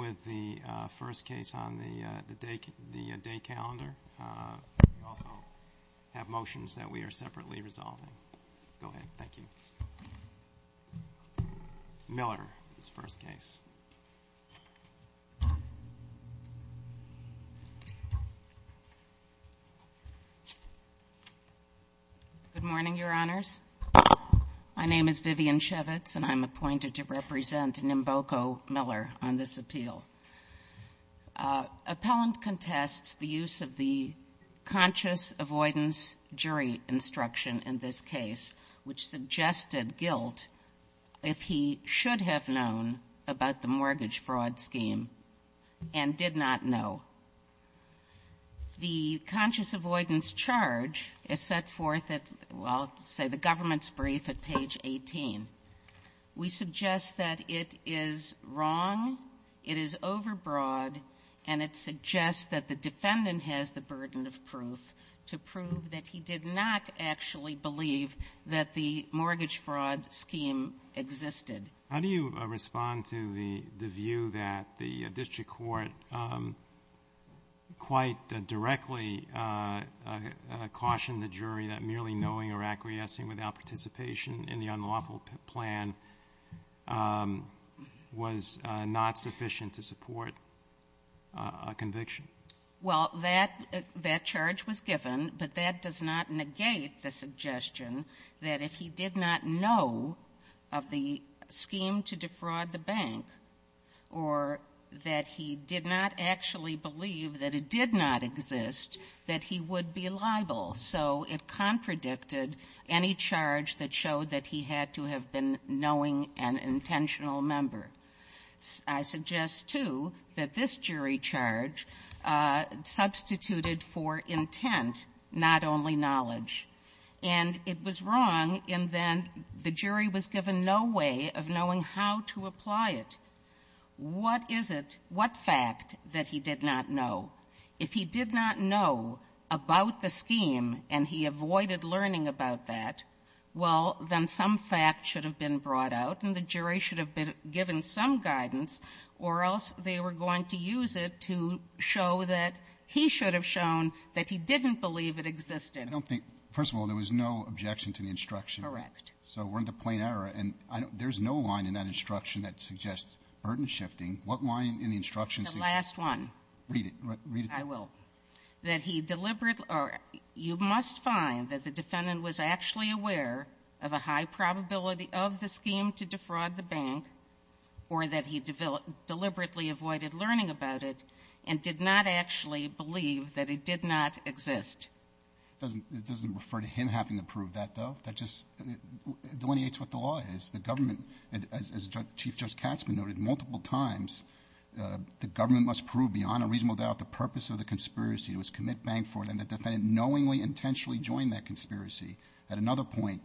With the first case on the day calendar, we also have motions that we are separately resolving. Go ahead. Thank you. Miller, this first case. Good morning, Your Honors. My name is Vivian Shevitz, and I'm appointed to represent Nimboco Miller on this appeal. Appellant contests the use of the conscious avoidance jury instruction in this case, which suggested guilt if he should have known about the mortgage fraud scheme and did not know. The conscious avoidance charge is set forth at, well, say, the government's brief at page 18. We suggest that it is wrong, it is overbroad, and it suggests that the defendant has the burden of proof to prove that he did not actually believe that the mortgage fraud scheme existed. How do you respond to the view that the district court quite directly cautioned the jury that merely knowing or acquiescing without participation in the unlawful plan was not sufficient to support a conviction? Well, that charge was given, but that does not negate the suggestion that if he did not know of the scheme to defraud the bank or that he did not actually believe that it did not exist, that he would be liable. So it contradicted any charge that showed that he had to have been knowing an intentional member. I suggest, too, that this jury charge substituted for intent, not only knowledge. And it was wrong in that the jury was given no way of knowing how to apply it. What is it, what fact, that he did not know? If he did not know about the scheme and he avoided learning about that, well, then some fact should have been brought out and the jury should have been given some guidance, or else they were going to use it to show that he should have shown that he didn't believe it existed. I don't think — first of all, there was no objection to the instruction. Correct. So we're in the plain error, and I don't — there's no line in that instruction that suggests burden shifting. What line in the instruction says that? The last one. Read it. Read it to me. I will. It doesn't — it doesn't refer to him having to prove that, though. That just delineates what the law is. The government — as Chief Judge Katzman noted multiple times, the government must prove beyond a reasonable doubt the purpose of the conspiracy was to commit bank fraud, and the defendant knowingly, intentionally joined that conspiracy. At another point,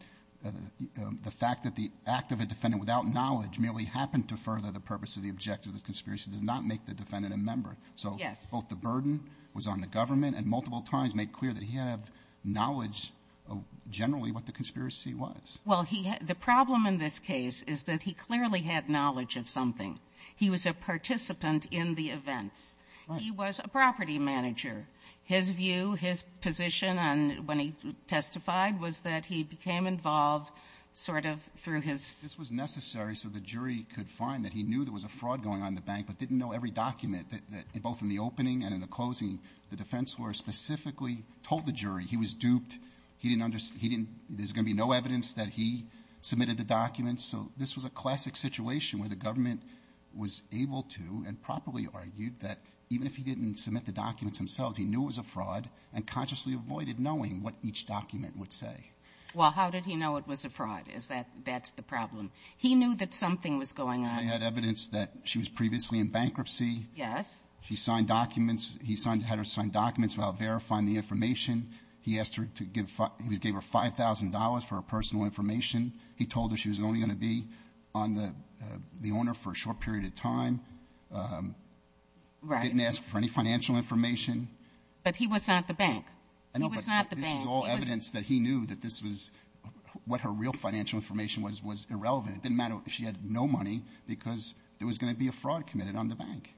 the fact that the act of a defendant without knowledge merely happened to further the purpose of the objective of the conspiracy does not make the defendant a member. Yes. So both the burden was on the government, and multiple times made clear that he had to have knowledge of generally what the conspiracy was. Well, he — the problem in this case is that he clearly had knowledge of something. He was a participant in the events. Right. He was a property manager. His view, his position on — when he testified was that he became involved sort of through his — This was necessary so the jury could find that he knew there was a fraud going on in the bank, but didn't know every document that — both in the opening and in the closing. The defense lawyer specifically told the jury he was duped. He didn't understand — he didn't — there's going to be no evidence that he submitted the documents. So this was a classic situation where the government was able to, and properly argued that even if he didn't submit the documents themselves, he knew it was a fraud and consciously avoided knowing what each document would say. Well, how did he know it was a fraud? Is that — that's the problem. He knew that something was going on. He had evidence that she was previously in bankruptcy. Yes. She signed documents. He signed — had her sign documents without verifying the information. He asked her to give — he gave her $5,000 for her personal information. He told her she was only going to be on the — the owner for a short period of time. Right. Didn't ask for any financial information. But he was not the bank. He was not the bank. I know, but this is all evidence that he knew that this was — what her real financial information was was irrelevant. It didn't matter if she had no money because there was going to be a fraud committed on the bank.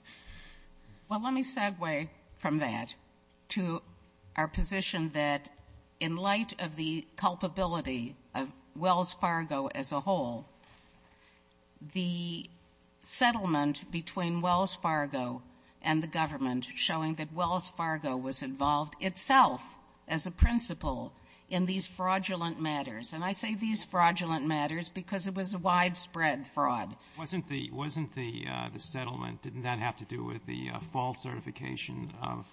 Well, let me segue from that to our position that in light of the culpability of Wells Fargo as a whole, the settlement between Wells Fargo and the government showing that Wells Fargo was involved itself as a principal in these fraudulent matters. And I say these fraudulent matters because it was a widespread fraud. Wasn't the — wasn't the settlement — didn't that have to do with the false certification of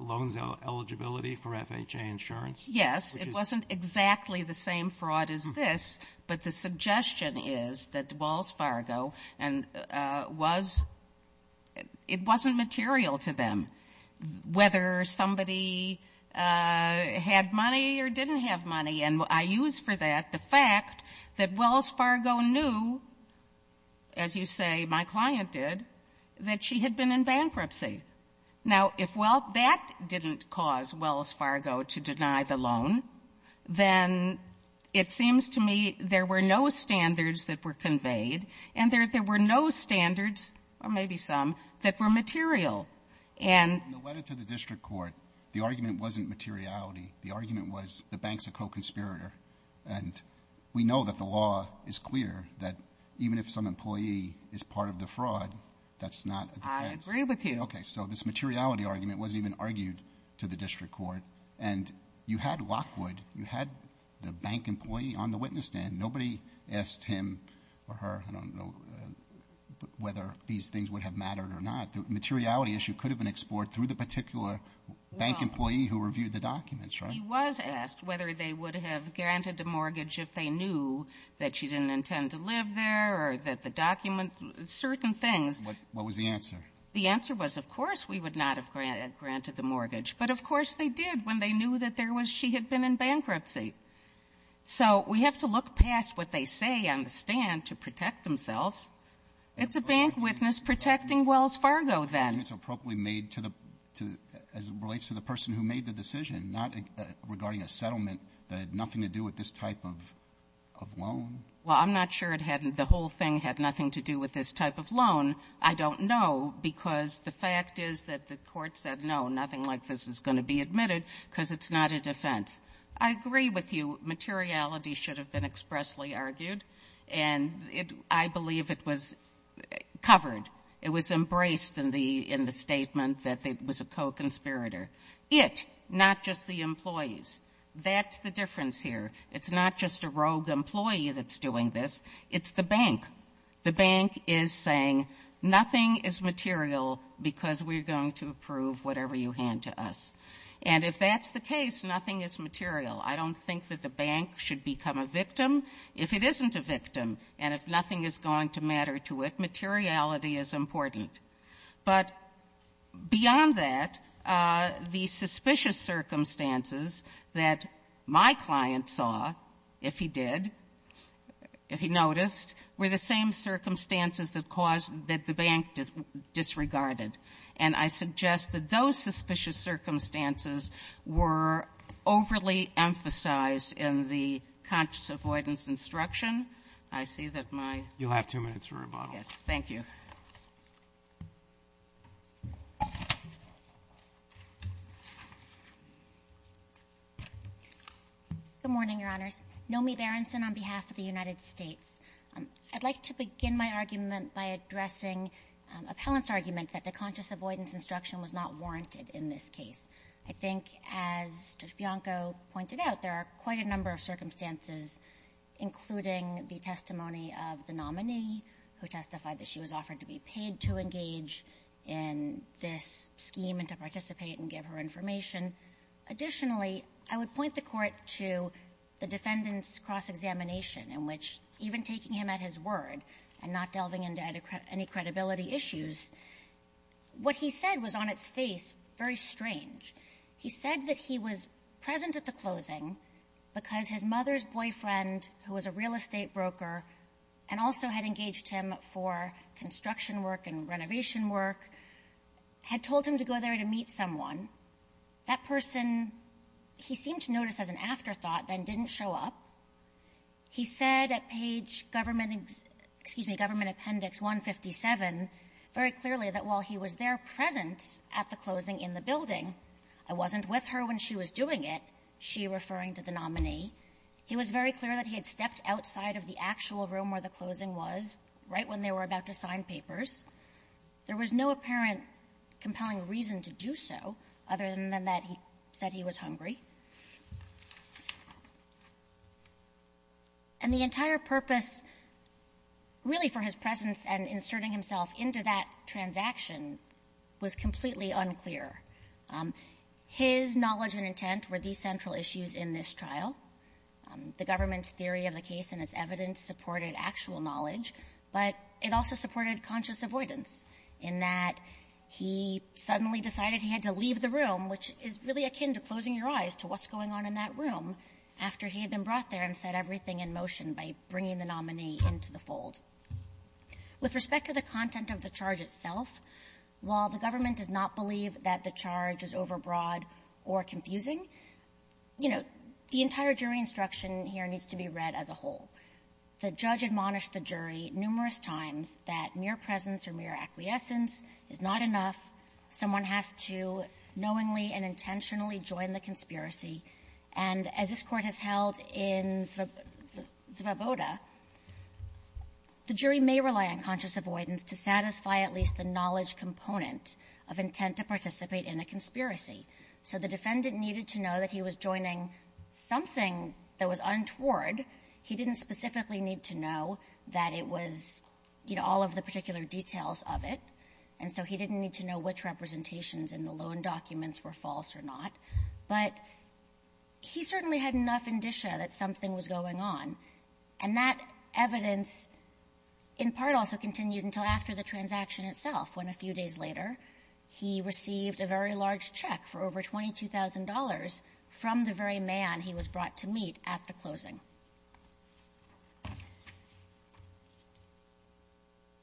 loans eligibility for FHA insurance? Yes. It wasn't exactly the same fraud as this, but the suggestion is that Wells Fargo was — it wasn't material to them, whether somebody had money or didn't have money. And I use for that the fact that Wells Fargo knew, as you say my client did, that she had been in bankruptcy. Now, if that didn't cause Wells Fargo to deny the loan, then it seems to me there were no standards that were conveyed and there were no standards, or maybe some, that were material. And — In the letter to the district court, the argument wasn't materiality. The argument was the bank's a co-conspirator. And we know that the law is clear that even if some — I agree with you. Okay. So this materiality argument wasn't even argued to the district court. And you had Lockwood. You had the bank employee on the witness stand. Nobody asked him or her — I don't know whether these things would have mattered or not. The materiality issue could have been explored through the particular bank employee who reviewed the documents, right? Well, he was asked whether they would have granted the mortgage if they knew that she didn't intend to live there or that the document — certain things. What was the answer? The answer was, of course, we would not have granted the mortgage. But, of course, they did when they knew that there was — she had been in bankruptcy. So we have to look past what they say on the stand to protect themselves. It's a bank witness protecting Wells Fargo, then. And it's appropriately made to the — as it relates to the person who made the decision, not regarding a settlement that had nothing to do with this type of loan? Well, I'm not sure it had — the whole thing had nothing to do with this type of loan. I don't know, because the fact is that the court said, no, nothing like this is going to be admitted because it's not a defense. I agree with you. Materiality should have been expressly argued. And it — I believe it was covered. It was embraced in the — in the statement that it was a co-conspirator. It, not just the employees. That's the difference here. It's not just a rogue employee that's doing this. It's the bank. The bank is saying, nothing is material because we're going to approve whatever you hand to us. And if that's the case, nothing is material. I don't think that the bank should become a victim. If it isn't a victim, and if nothing is going to matter to it, materiality is important. But beyond that, the suspicious circumstances that my client saw, if he did, if he noticed, were the same circumstances that caused — that the bank disregarded. And I suggest that those suspicious circumstances were overly emphasized in the conscious avoidance instruction. I see that my — You'll have two minutes for rebuttal. Yes. Thank you. Good morning, Your Honors. Nomi Berenson on behalf of the United States. I'd like to begin my argument by addressing Appellant's argument that the conscious avoidance instruction was not warranted in this case. I think, as Judge Bianco pointed out, there are quite a number of circumstances, including the testimony of the nominee who testified that she was offered to be paid to engage in this scheme and to participate and give her information. Additionally, I would point the Court to the defendant's cross-examination in which, even taking him at his word and not delving into any credibility issues, what he said was, on its face, very strange. He said that he was present at the closing because his mother's boyfriend, who was a real estate broker and also had engaged him for construction work and renovation work, had told him to go there to meet someone. That person, he seemed to notice as an afterthought, then didn't that while he was there present at the closing in the building, I wasn't with her when she was doing it, she referring to the nominee, he was very clear that he had stepped outside of the actual room where the closing was right when they were about to sign papers. There was no apparent compelling reason to do so other than that he said he was hungry. And the entire purpose, really, for his presence and inserting himself into that transaction was completely unclear. His knowledge and intent were the central issues in this trial. The government's theory of the case and its evidence supported actual knowledge, but it also supported conscious avoidance in that he suddenly decided he had to leave the room, which is really akin to closing your eyes to what's going on in that room after he had been brought there and said everything in motion by bringing the nominee into the fold. With respect to the content of the charge itself, while the government does not believe that the charge is overbroad or confusing, you know, the entire jury instruction here needs to be read as a whole. The judge admonished the jury numerous times that mere presence or mere acquiescence is not enough. Someone has to knowingly and intentionally join the conspiracy. And as this Court has held in Zvoboda, the jury may rely on conscious avoidance to satisfy at least the knowledge component of intent to participate in a conspiracy. So the defendant needed to know that he was joining something that was untoward. He didn't specifically need to know that it was, you know, all of the particular details of it. And so he didn't need to know which representations in the loan documents were false or not. But he certainly had enough indicia that something was going on. And that evidence, in part, also continued until after the transaction itself, when a few days later he received a very large check for over $22,000 from the very man he was brought to meet at the closing.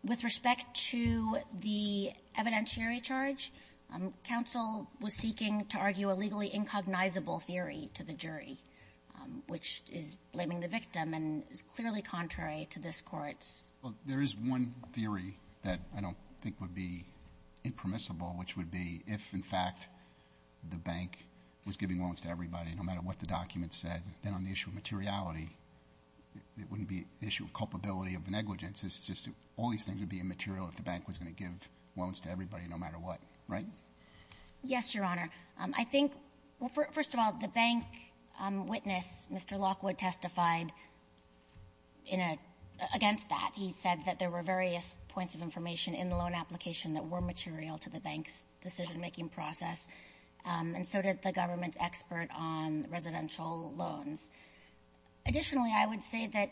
With respect to the evidentiary I would argue a legally incognizable theory to the jury, which is blaming the victim and is clearly contrary to this Court's. Well, there is one theory that I don't think would be impermissible, which would be if, in fact, the bank was giving loans to everybody, no matter what the document said, then on the issue of materiality, it wouldn't be the issue of culpability of negligence. It's just all these things would be immaterial if the bank was going to give loans to everybody no matter what, right? Yes, Your Honor. I think, well, first of all, the bank witness, Mr. Lockwood, testified in a — against that. He said that there were various points of information in the loan application that were material to the bank's decision-making process, and so did the government's expert on residential loans. Additionally, I would say that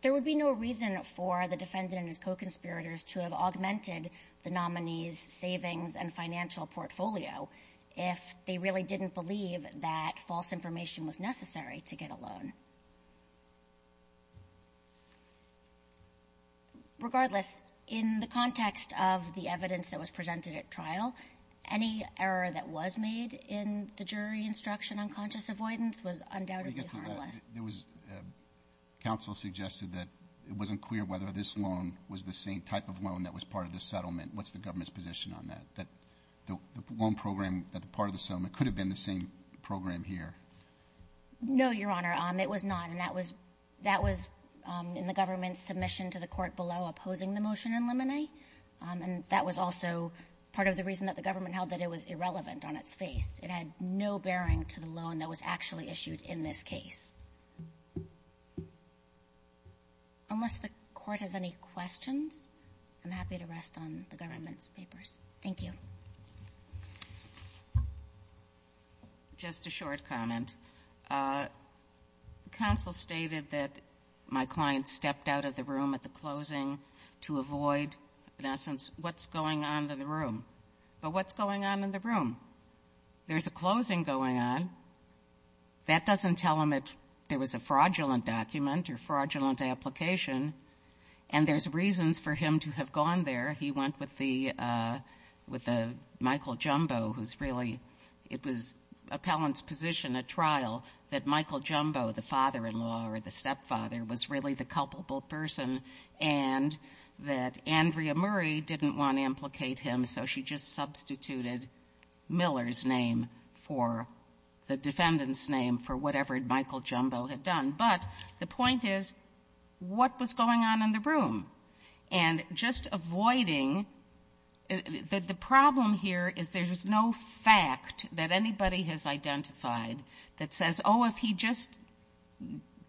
there would be no reason for the defendant and his co-conspirators to have augmented the nominee's savings and financial portfolio if they really didn't believe that false information was necessary to get a loan. Regardless, in the context of the evidence that was presented at trial, any error that was made in the jury instruction on conscious avoidance was undoubtedly harmless. When you get to that, there was — counsel suggested that it wasn't clear whether this loan was the same type of loan that was part of the settlement. What's the government's position on that, that the loan program that's part of the settlement could have been the same program here? No, Your Honor. It was not, and that was — that was in the government's submission to the court below opposing the motion in Lemonet, and that was also part of the reason that the government held that it was irrelevant on its face. It had no bearing to the loan that was actually issued in this case. Unless the court has any questions, I'm happy to rest on the government's papers. Thank you. Just a short comment. Counsel stated that my client stepped out of the room at the closing to avoid, in essence, what's going on in the room. But what's going on in the room? There's a closing going on. That doesn't tell him it's a closing. There was a fraudulent document or fraudulent application, and there's reasons for him to have gone there. He went with the — with the — Michael Jumbo, who's really — it was appellant's position at trial that Michael Jumbo, the father-in-law or the stepfather, was really the culpable person, and that Andrea Murray didn't want to implicate him, so she just substituted Miller's name for the defendant's name for whatever Michael Jumbo had done. But the point is, what was going on in the room? And just avoiding — the problem here is there's no fact that anybody has identified that says, oh, if he just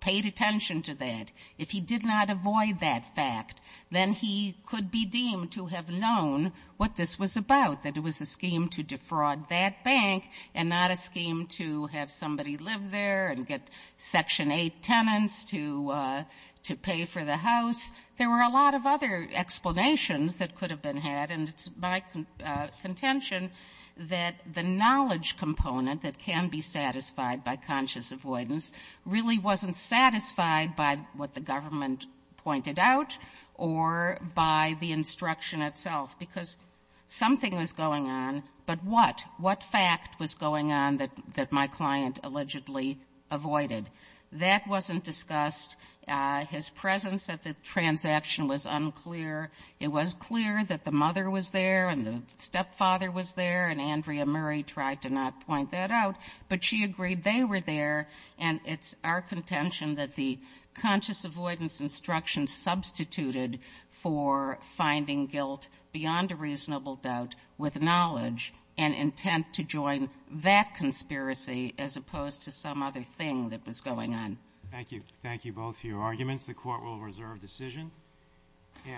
paid attention to that, if he did not avoid that fact, then he could be deemed to have known what this was about, that it was a scheme to defraud that bank and not a scheme to have somebody live there and get Section 8 tenants to — to pay for the house. There were a lot of other explanations that could have been had, and it's my contention that the knowledge component that can be satisfied by conscious avoidance really wasn't satisfied by what the government pointed out or by the instruction itself, because something was going on, but what? What fact was going on that the defendant knew that my client allegedly avoided? That wasn't discussed. His presence at the transaction was unclear. It was clear that the mother was there and the stepfather was there, and Andrea Murray tried to not point that out, but she agreed they were there, and it's our contention that the conscious avoidance instruction substituted for finding guilt beyond a reasonable doubt with knowledge and intent to join that conspiracy as opposed to some other thing that was going on. Thank you. Thank you both for your arguments. The Court will reserve decision.